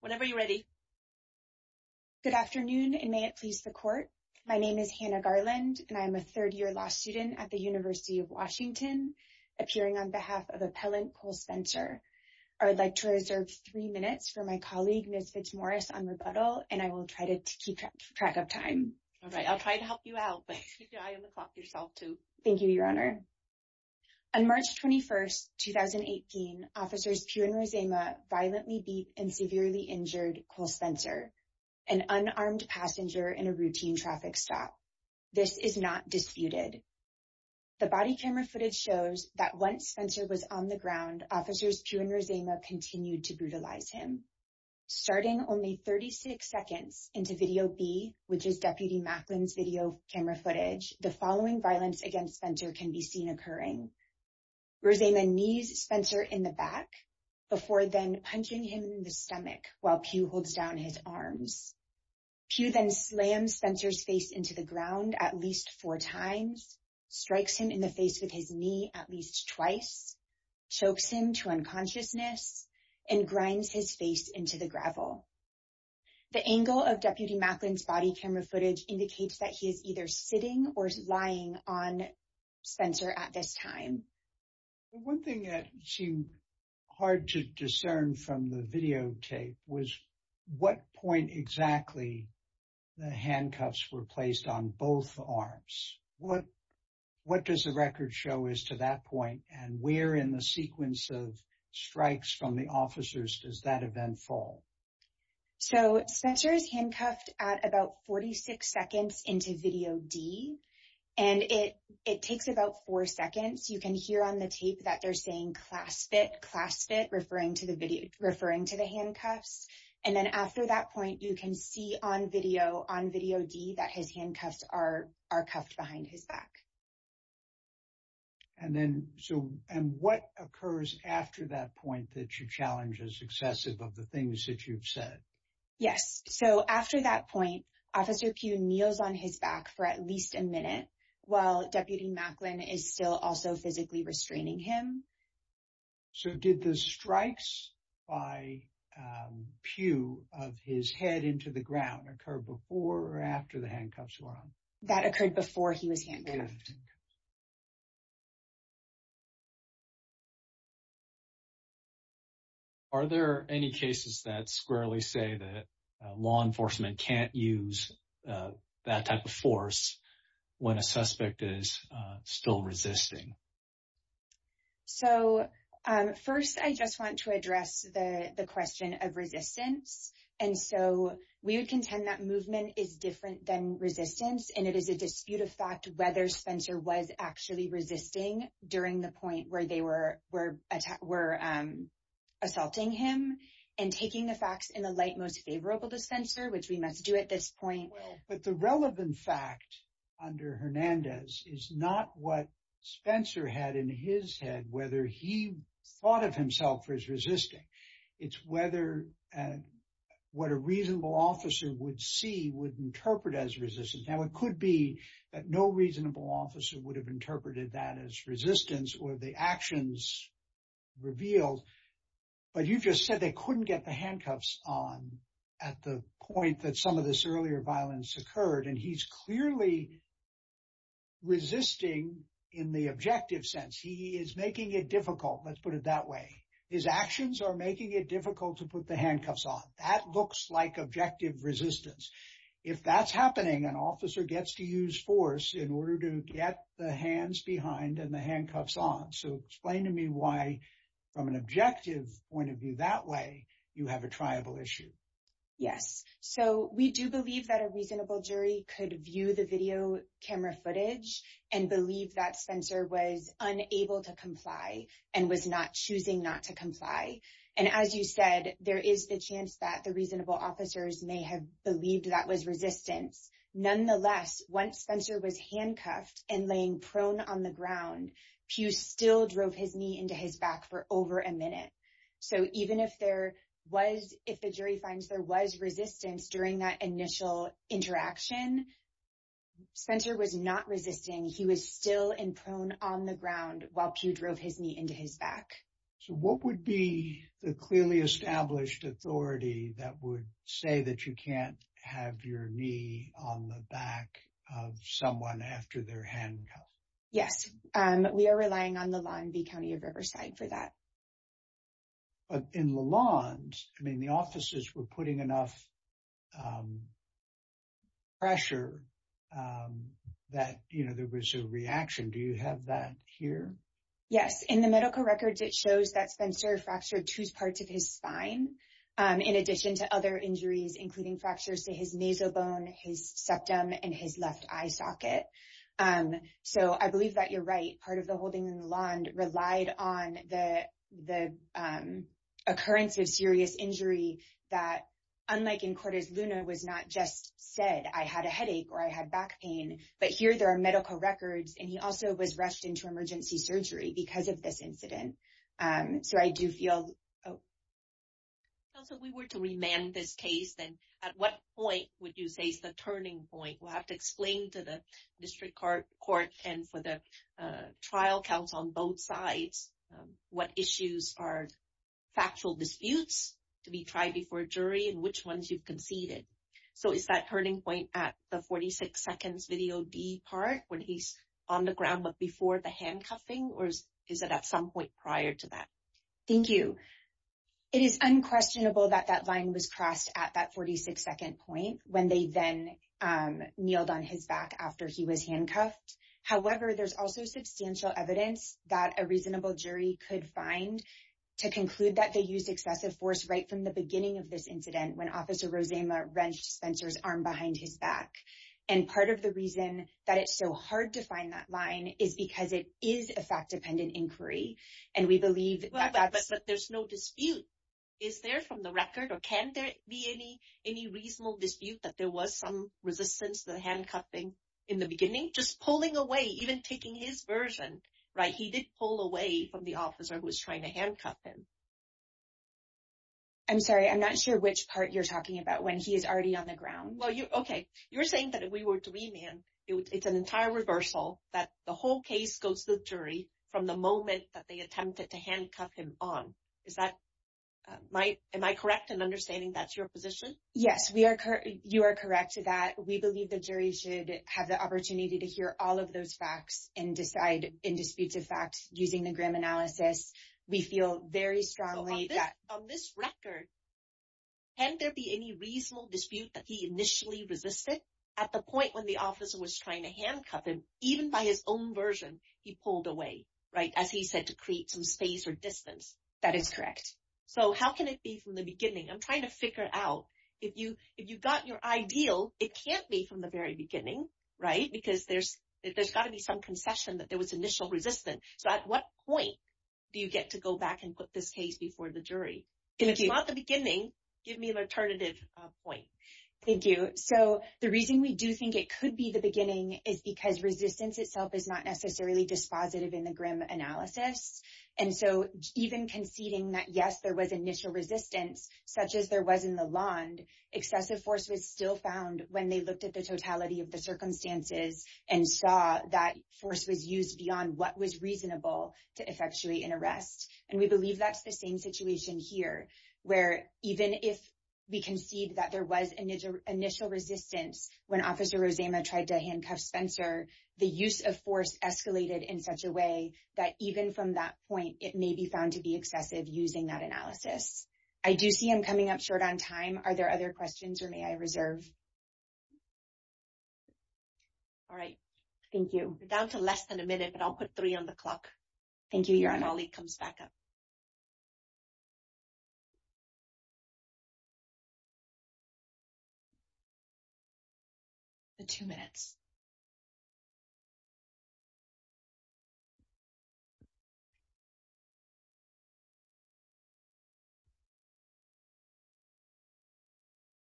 Whenever you're ready, good afternoon, and may it please the court. My name is Hannah Garland, and I'm a third year law student at the University of Washington, appearing on behalf of Appellant Cole Spencer. I would like to reserve three minutes for my colleague Miss Fitzmaurice on rebuttal, and I will try to keep track of time. All right, I'll try to help you out by keeping an eye on the clock yourself, too. Thank you, Your Honor. On March 21st, 2018, Officers Pew and Rozema violently beat and severely injured Cole Spencer, an unarmed passenger in a routine traffic stop. This is not disputed. The body camera footage shows that once Spencer was on the ground, Officers Pew and Rozema continued to brutalize him. Starting only 36 seconds into Video B, which footage, the following violence against Spencer can be seen occurring. Rozema knees Spencer in the back, before then punching him in the stomach while Pew holds down his arms. Pew then slams Spencer's face into the ground at least four times, strikes him in the face with his knee at least twice, chokes him to unconsciousness, and grinds his face into the gravel. The angle of Deputy Macklin's body camera footage indicates that he is either sitting or lying on Spencer at this time. One thing that seemed hard to discern from the videotape was what point exactly the handcuffs were placed on both arms. What does the record show as to that point, and where in the sequence of strikes from the officers does that event fall? So, Spencer is handcuffed at about 46 seconds into Video D. And it takes about four seconds. You can hear on the tape that they're saying, clasp it, clasp it, referring to the video, referring to the handcuffs. And then after that point, you can see on video, on Video D, that his handcuffs are cuffed behind his back. And then, so, and what occurs after that point that you challenge as excessive of the things that you've said? Yes. So, after that point, Officer Pew kneels on his back for at least a minute while Deputy Macklin is still also physically restraining him. So, did the strikes by Pew of his head into the ground occur before or after the handcuffs were on? That occurred before he was handcuffed. Are there any cases that squarely say that law enforcement can't use that type of force when a suspect is still resisting? So, first, I just want to address the question of resistance. And so, we would contend that movement is different than resistance. And it is a dispute of fact whether Spencer was actually resisting during the point where they were assaulting him and taking the facts in the light most favorable to Spencer, which we must do at this point. Well, but the relevant fact under Hernandez is not what Spencer had in his head, whether he thought of himself as resisting. It's whether what a reasonable officer would see would interpret as resistance. Now, it could be that no reasonable officer would have interpreted that as resistance or the actions revealed. But you just said they couldn't get the handcuffs on at the point that some of this earlier violence occurred. And he's clearly resisting in the objective sense. He is making it difficult. Let's put it that way. His actions are making it difficult to put the handcuffs on. That looks like objective resistance. If that's happening, an officer gets to use force in order to get the hands behind and the handcuffs on. So, explain to me why, from an objective point of view that way, you have a triable issue. Yes. So, we do believe that a reasonable jury could view the video camera footage and believe that Spencer was unable to comply and was not choosing not to comply. And as you said, there is the chance that the reasonable officers may have believed that was resistance. Nonetheless, once Spencer was handcuffed and laying prone on the ground, Pew still drove his knee into his back for over a minute. So, even if the jury finds there was resistance during that initial interaction, Spencer was not resisting. He was still in prone on the ground while Pew drove his knee into his back. So, what would be the clearly established authority that would say that you can't have your knee on the back of someone after their handcuff? Yes. We are relying on the law in the county of Riverside for that. But in Lalonde, I mean, the officers were putting enough pressure that, you know, there was a reaction. Do you have that here? Yes. In the medical records, it shows that Spencer fractured two parts of his spine, in addition to other injuries, including fractures to his nasal bone, his septum, and his left eye socket. So, I believe that you're right. Part of the holding in Lalonde relied on the occurrence of serious injury that, unlike in Cortes Luna, was not just said, I had a headache or I had back pain. But here, there are medical records, and he also was rushed into emergency surgery because of this incident. So, I do feel... So, if we were to remand this case, then at what point would you say is the turning point? We'll trial counts on both sides. What issues are factual disputes to be tried before a jury, and which ones you've conceded? So, is that turning point at the 46 seconds video D part, when he's on the ground, but before the handcuffing, or is it at some point prior to that? Thank you. It is unquestionable that that line was crossed at that 46 second point when they then on his back after he was handcuffed. However, there's also substantial evidence that a reasonable jury could find to conclude that they used excessive force right from the beginning of this incident when Officer Rosema wrenched Spencer's arm behind his back. And part of the reason that it's so hard to find that line is because it is a fact-dependent inquiry. And we believe that that's... But there's no dispute. Is there from the record, or can there be any reasonable dispute that there was some resistance to the handcuffing in the beginning? Just pulling away, even taking his version, right? He did pull away from the officer who was trying to handcuff him. I'm sorry. I'm not sure which part you're talking about when he is already on the ground. Well, okay. You're saying that if we were to remand, it's an entire reversal that the whole case goes to the jury from the moment that they attempted to handcuff him on. Am I correct in your position? Yes, you are correct to that. We believe the jury should have the opportunity to hear all of those facts and decide in disputes of facts using the grim analysis. We feel very strongly that... On this record, can there be any reasonable dispute that he initially resisted at the point when the officer was trying to handcuff him, even by his own version, he pulled away, right? As he said, to create some space or distance. That is correct. So how can it be from the beginning? I'm trying to figure out. If you've got your ideal, it can't be from the very beginning, right? Because there's got to be some concession that there was initial resistance. So at what point do you get to go back and put this case before the jury? And if it's not the beginning, give me an alternative point. Thank you. So the reason we do think it could be the beginning is because resistance itself is not necessarily dispositive in the grim analysis. And so even conceding that, yes, there was initial resistance, such as there was in the land, excessive force was still found when they looked at the totality of the circumstances and saw that force was used beyond what was reasonable to effectuate an arrest. And we believe that's the same situation here, where even if we concede that there was an initial resistance when Officer Rosema tried to handcuff Spencer, the use of force escalated in such a way that even from that point, it may be found to be excessive using that analysis. I do see I'm coming up short on time. Are there other questions or may I reserve? All right. Thank you. We're down to less than a minute, but I'll put on the clock. Thank you, Your Honor. I'll leave it comes back up. The two minutes.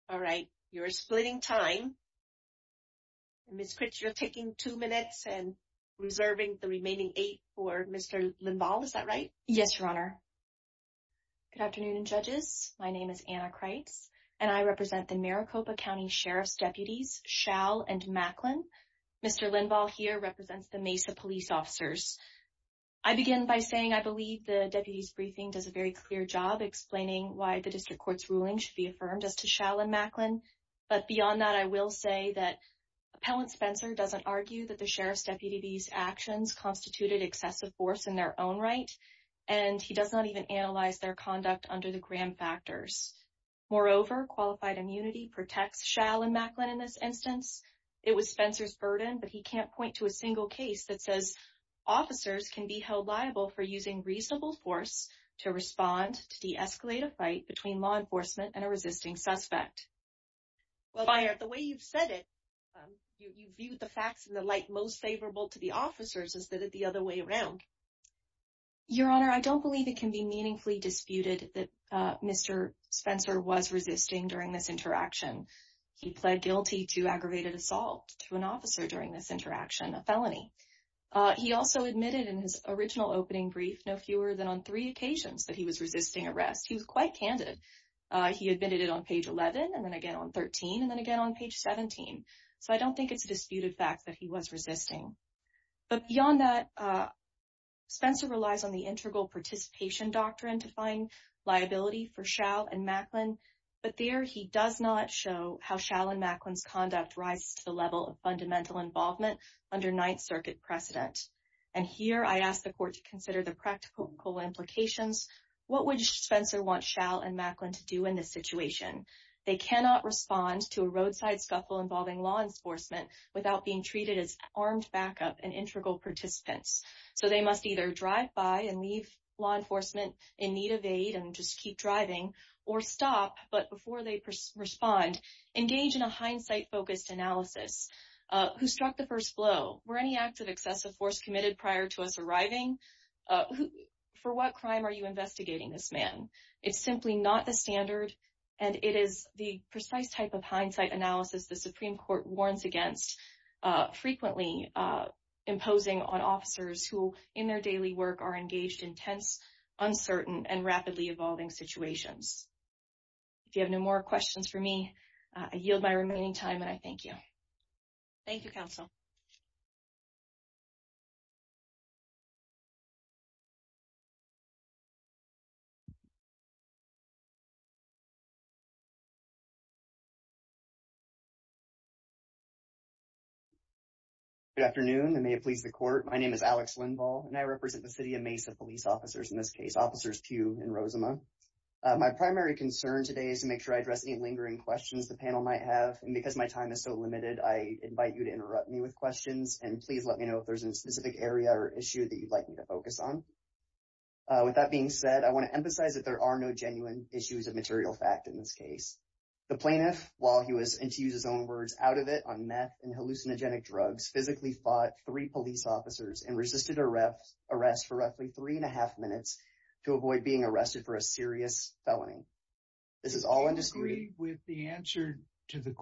All right. You're splitting time. Ms. Critch, you're taking two minutes and reserving the remaining eight for Mr. Linvall. Is that right? Yes, Your Honor. Good afternoon, judges. My name is Anna Critch, and I represent the Maricopa County Sheriff's deputies, Schall and Macklin. Mr. Linvall here represents the Mesa police officers. I begin by saying I believe the deputy's briefing does a very clear job explaining why the district court's ruling should be affirmed as to Schall and Macklin. But beyond that, I will say that Appellant Spencer doesn't argue that the Sheriff's deputy's actions constituted excessive force in their own right, and he does not even analyze their conduct under the gram factors. Moreover, qualified immunity protects Schall and Macklin in this instance. It was Spencer's burden, but he can't point to a single case that says officers can be held liable for using reasonable force to respond to de-escalate a fight between law enforcement and a resisting suspect. Well, the way you've said it, you've viewed the facts in the light most favorable to the officers instead of the other way around. Your Honor, I don't believe it can be meaningfully disputed that Mr. Spencer was resisting during this interaction. He pled guilty to aggravated assault to an officer during this interaction, a felony. He also admitted in his original opening brief no fewer than on three occasions that he was resisting. He admitted it on page 11, and then again on 13, and then again on page 17. So I don't think it's a disputed fact that he was resisting. But beyond that, Spencer relies on the integral participation doctrine to find liability for Schall and Macklin, but there he does not show how Schall and Macklin's conduct rises to the level of fundamental involvement under Ninth Circuit precedent. And here I ask the Court to consider the practical implications. What would Spencer want Schall and Macklin to do in this situation? They cannot respond to a roadside scuffle involving law enforcement without being treated as armed backup and integral participants. So they must either drive by and leave law enforcement in need of aid and just keep driving, or stop, but before they respond, engage in a hindsight-focused analysis. Who struck the first blow? Were any acts of excessive force committed prior to us arriving? For what crime are you investigating this man? It's simply not the standard, and it is the precise type of hindsight analysis the Supreme Court warns against, frequently imposing on officers who, in their daily work, are engaged in tense, uncertain, and rapidly evolving situations. If you have no more questions for me, I yield my remaining time, and I thank you. Thank you, Counsel. Good afternoon, and may it please the Court. My name is Alex Lindvall, and I represent the City of Mesa Police Officers, in this case, Officers Pugh and Rozema. My primary concern today is to make sure I address any lingering questions the panel might have, and because my time is so limited, I invite you to interrupt me with questions, and please let me know if there's a specific area or issue that you'd like me to focus on. With that being said, I want to emphasize that there are no genuine issues of material fact in this case. The plaintiff, while he was, and to use his own words, out of it on meth and hallucinogenic drugs, physically fought three police officers and resisted arrest for roughly three and a half minutes to avoid being arrested for a serious felony. This is all undisputed. I agree with the answer to the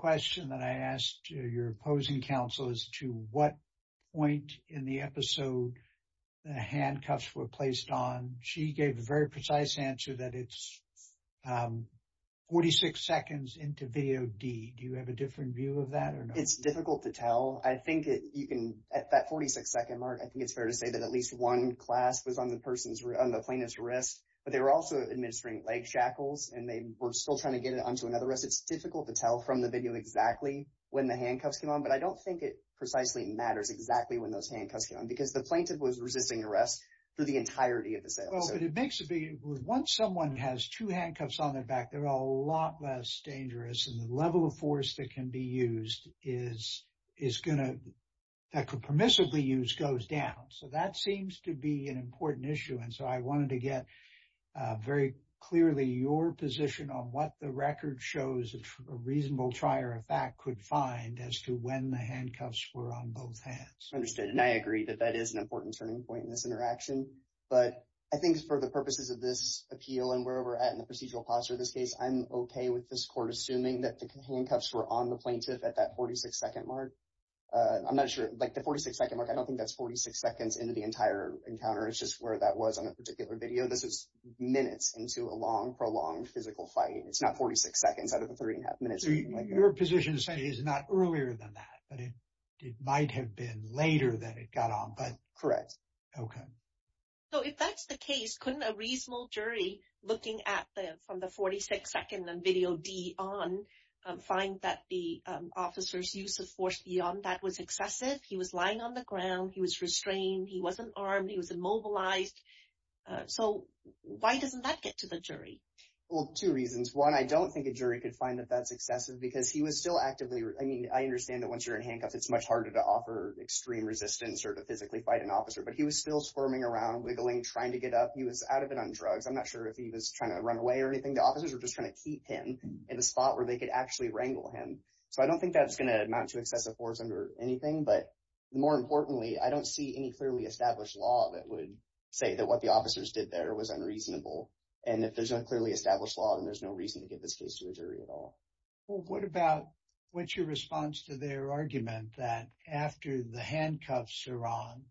episode the handcuffs were placed on. She gave a very precise answer that it's 46 seconds into video D. Do you have a different view of that or not? It's difficult to tell. I think that you can, at that 46-second mark, I think it's fair to say that at least one clasp was on the plaintiff's wrist, but they were also administering leg shackles, and they were still trying to get it onto another wrist. It's difficult to tell from the video exactly when the handcuffs came on, but I don't think it precisely matters exactly when those handcuffs came on, because the plaintiff was resisting arrest for the entirety of the sale. It makes a big, once someone has two handcuffs on their back, they're a lot less dangerous, and the level of force that can be used is going to, that could permissibly use, goes down. That seems to be an important issue. I wanted to get very clearly your position on what the record shows a reasonable trier of fact could find as to when the handcuffs were on both hands. Understood, and I agree that that is an important turning point in this interaction, but I think for the purposes of this appeal and where we're at in the procedural posture of this case, I'm okay with this court assuming that the handcuffs were on the plaintiff at that 46-second mark. I'm not sure, like the 46-second mark, I don't think that's 46 seconds into the entire encounter. It's just where that was on a particular video. This is minutes into a long, prolonged physical fight. It's not 46 seconds out of the three and a half minutes. Your position is not earlier than that, but it might have been later than it got on, but... Correct. Okay. So, if that's the case, couldn't a reasonable jury, looking from the 46-second and video D on, find that the officer's use of force beyond that was excessive? He was lying on the ground. He was restrained. He wasn't armed. He was immobilized. So, why doesn't that get to the jury? Well, two reasons. One, I don't think a jury could find that that's excessive because he was still actively... I mean, I understand that once you're in handcuffs, it's much harder to offer extreme resistance or to physically fight an officer, but he was still squirming around, wiggling, trying to get up. He was out of it on drugs. I'm not sure if he was trying to run away or anything. The officers were just trying to keep him in a spot where they could actually wrangle him. So, I don't think that's going to amount to excessive force under anything, but more importantly, I don't see any clearly established law that would say that what the officers did there was unreasonable. And if there's no clearly established law, then there's no reason to give this case to a jury at all. Well, what about... What's your response to their argument that after the handcuffs are on,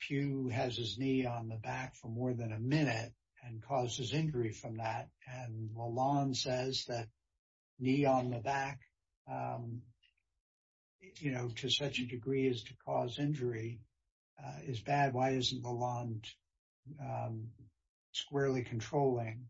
Pew has his knee on the back for more than a minute and causes injury from that? And Lalonde says that knee on the back to such a degree as to cause injury is bad. Why isn't Lalonde squarely controlling?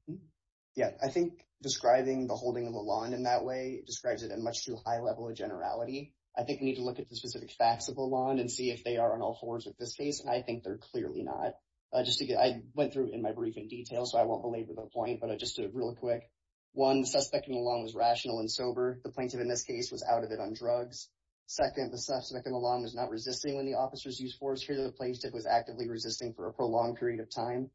Yeah. I think describing the holding of Lalonde in that way describes it at a much too high level of generality. I think we need to look at the specific facts of Lalonde and see if they are on all fours with this case, and I think they're clearly not. I went through in my briefing details, so I won't belabor the point, but I just did it real quick. One, the suspect in Lalonde was rational and sober. The plaintiff in this case was out of it on drugs. Second, the suspect in Lalonde was not resisting when the officers used force here to the plaintiff was actively resisting for a prolonged period of time.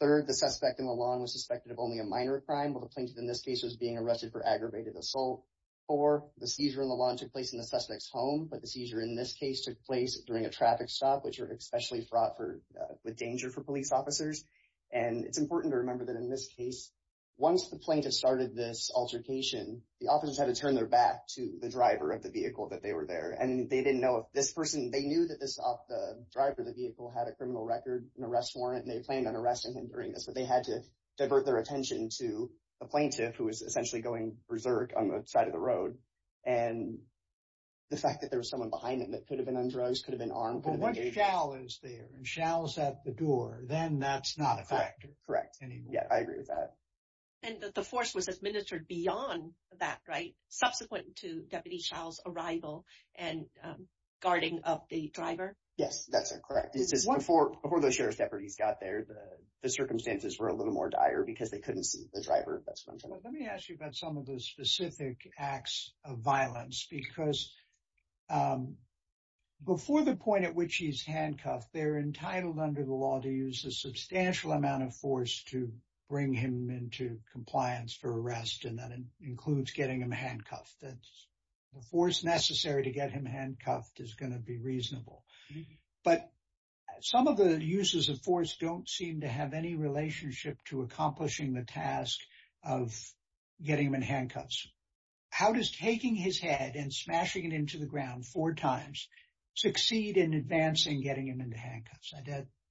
Third, the suspect in Lalonde was suspected of only a minor crime, while the plaintiff in this case was being arrested for aggravated assault. Four, the seizure in Lalonde took place in the suspect's home, but the seizure in this case took place during a traffic stop, which are especially fraught with danger for police officers. And it's important to remember that in this case, once the plaintiff started this altercation, the officers had to turn their back to the driver of the vehicle that they were there, and they didn't know if this person, they knew that this driver of the vehicle had a criminal record, an arrest warrant, and they planned on arresting him during this, but they had to divert their attention to the plaintiff, who was essentially going berserk on the side of the road, and the fact that there was someone behind him that could have been on drugs, could have been armed, could have been engaged. But once Schall is there and Schall's at the door, then that's not a factor anymore. Correct. Correct. Yeah, I agree with that. And that the force was administered beyond that, right? Subsequent to Deputy Schall's arrival and guarding of the driver? Yes, that's correct. It's just before those sheriff's deputies got there, the circumstances were a little more dire because they couldn't see the driver. Let me ask you about some of the specific acts of violence, because before the point at which he's handcuffed, they're entitled under the law to use a substantial amount of force to bring him into compliance for arrest, and that includes getting him handcuffed. The force necessary to get him handcuffed is going to be reasonable. But some of the uses of force don't seem to have any relationship to accomplishing the task of getting him in handcuffs. How does taking his head and smashing it into the ground four times succeed in advancing getting him into handcuffs?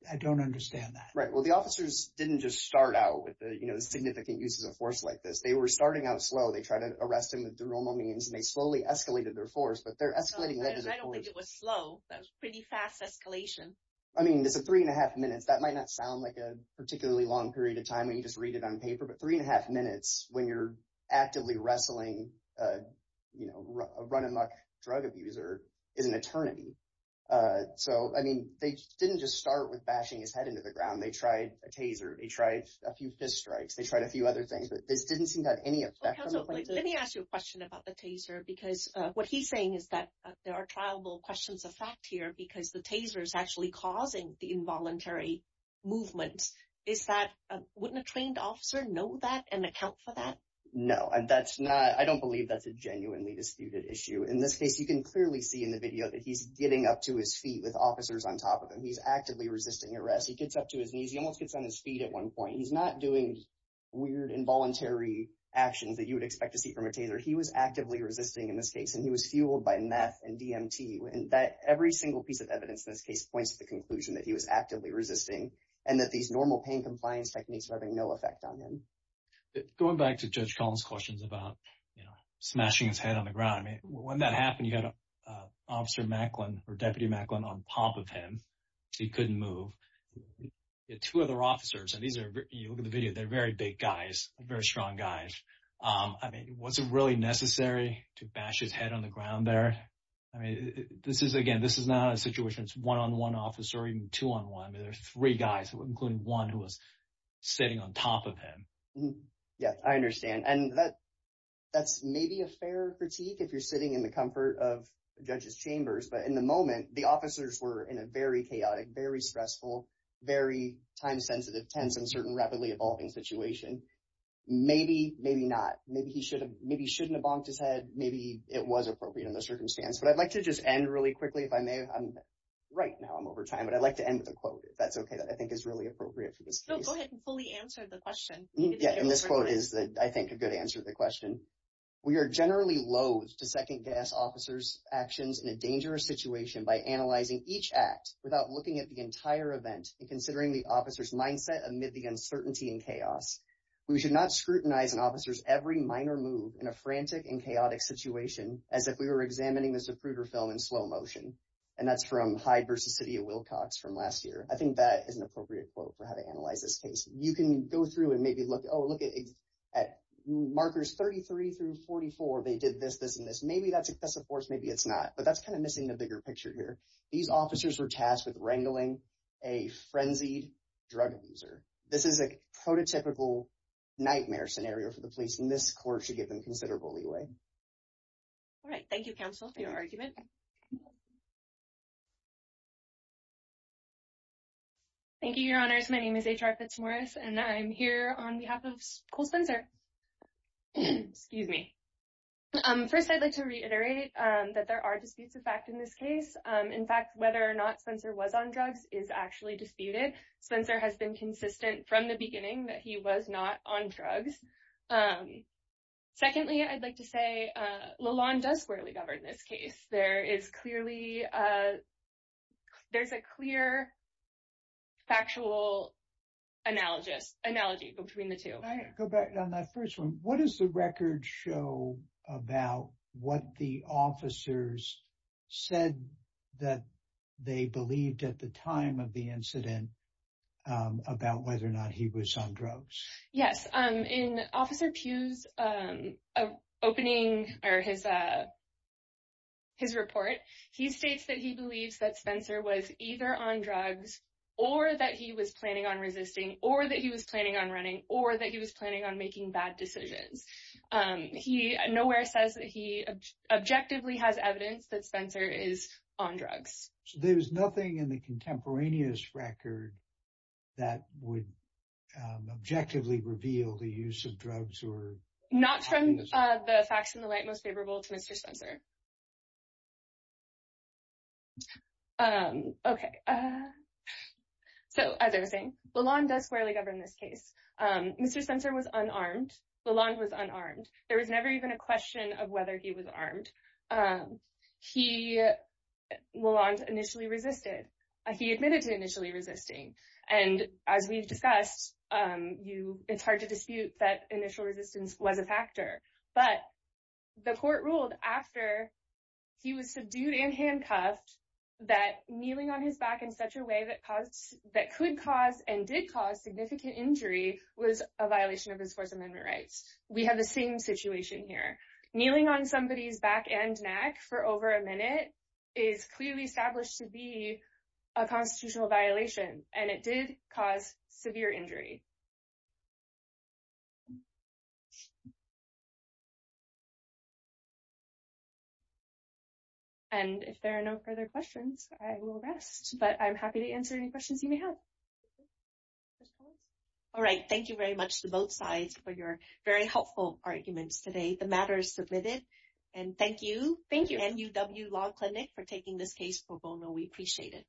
I don't understand that. Right. Well, the officers didn't just start out with the significant uses of force like this. They were starting out slow. They tried to arrest him with the normal means, and they slowly escalated their force, but they're escalating that as a force. I don't think it was slow. That was pretty fast escalation. I mean, it's a three and a half minutes. That might not sound like a particularly long period of time when you just read it on paper, but three and a half minutes when you're actively wrestling a run-and-muck drug abuser is an eternity. So, I mean, they didn't just start with bashing his head into the ground. They tried a taser. They tried a few fist strikes. They tried a few other things, but this didn't seem to have any effect. Let me ask you a question about the taser because what he's saying is that there are triable questions of fact here because the taser is actually causing the involuntary movement. Wouldn't a trained officer know that and account for that? No. I don't believe that's a genuinely disputed issue. In this case, you can clearly see in the video that he's getting up to his feet with officers on top of him. He's actively resisting arrest. He gets up to his knees. He almost gets on his feet at one point. He's not doing weird involuntary actions that you would expect to see from a taser. He was actively resisting in this case, and he was fueled by meth and DMT. Every single piece of evidence in this case points to the conclusion that he was actively resisting and that these normal pain compliance techniques were having no effect on him. Going back to Judge Collins' questions about smashing his head on the ground, when that happened, you had Officer Macklin or Deputy Macklin on top of him. He couldn't move. You had two other officers, and you look at the video, they're very big guys, very strong guys. Was it really necessary to bash his head on the ground there? Again, this is not a situation that's one-on-one officer or even two-on-one. There's three guys, including one who was sitting on top of him. Yeah, I understand. That's maybe a fair critique if you're sitting in the comfort of a judge's chambers, but in the moment, the officers were in a very chaotic, very stressful, very time-sensitive, tense, and certain rapidly evolving situation. Maybe, maybe not. Maybe he shouldn't have bonked his head. Maybe it was appropriate in the circumstance, but I'd like to just end really quickly, if I may. Right now, I'm over time, but I'd like to end with a quote, if that's okay, that I think is really appropriate for this case. Go ahead and fully answer the question. Yeah, and this quote is, I think, a good answer to the question. We are generally loathed to second-guess officers' actions in a dangerous situation by analyzing each act without looking at the entire event and considering the officer's mindset amid the uncertainty and chaos. We should not scrutinize an officer's every minor move in a frantic and chaotic situation as if we were examining the Zapruder film in slow motion. And that's from Hyde v. City of Wilcox from last year. I think that is an appropriate quote for how to analyze this case. You can go through and maybe look, oh, look at markers 33 through 44. They did this, this, and this. Maybe that's a force. Maybe it's not. But that's kind of missing the bigger picture here. These officers were tasked with wrangling a frenzied drug abuser. This is a prototypical nightmare scenario for the police. And this court should give them considerable leeway. All right. Thank you, counsel, for your argument. Thank you, your honors. My name is H.R. Fitzmaurice. And I'm here on behalf of Cole Spencer. Excuse me. First, I'd like to reiterate that there are disputes of fact in this case. In fact, whether or not Spencer was on drugs is actually disputed. Spencer has been consistent from the beginning that he was not on drugs. Secondly, I'd like to say Lalonde does squarely govern this case. There is clearly, there's a clear factual analogy between the two. Can I go back on that first one? What does the record show about what the officers said that they believed at the time of the incident about whether or not he was on drugs? Yes. In Officer Pugh's opening or his report, he states that he believes that Spencer was either on drugs or that he was planning on resisting or that he was planning on running or that he was objectively has evidence that Spencer is on drugs. So there was nothing in the contemporaneous record that would objectively reveal the use of drugs or... Not from the facts in the light most favorable to Mr. Spencer. Okay. So as I was saying, Lalonde does squarely govern this case. Mr. Spencer was unarmed. Lalonde was unarmed. There was never even a question of whether he was armed. Lalonde initially resisted. He admitted to initially resisting. And as we've discussed, it's hard to dispute that initial resistance was a factor, but the court ruled after he was subdued and handcuffed that kneeling on his back in such a way that could cause and did cause significant injury was a violation of his First Amendment rights. We have the same situation here. Kneeling on somebody's back and neck for over a minute is clearly established to be a constitutional violation and it did cause severe injury. And if there are no further questions, I will rest, but I'm happy to answer any questions you very helpful arguments today. The matter is submitted. And thank you. Thank you. NUW Law Clinic for taking this case for bono. We appreciate it.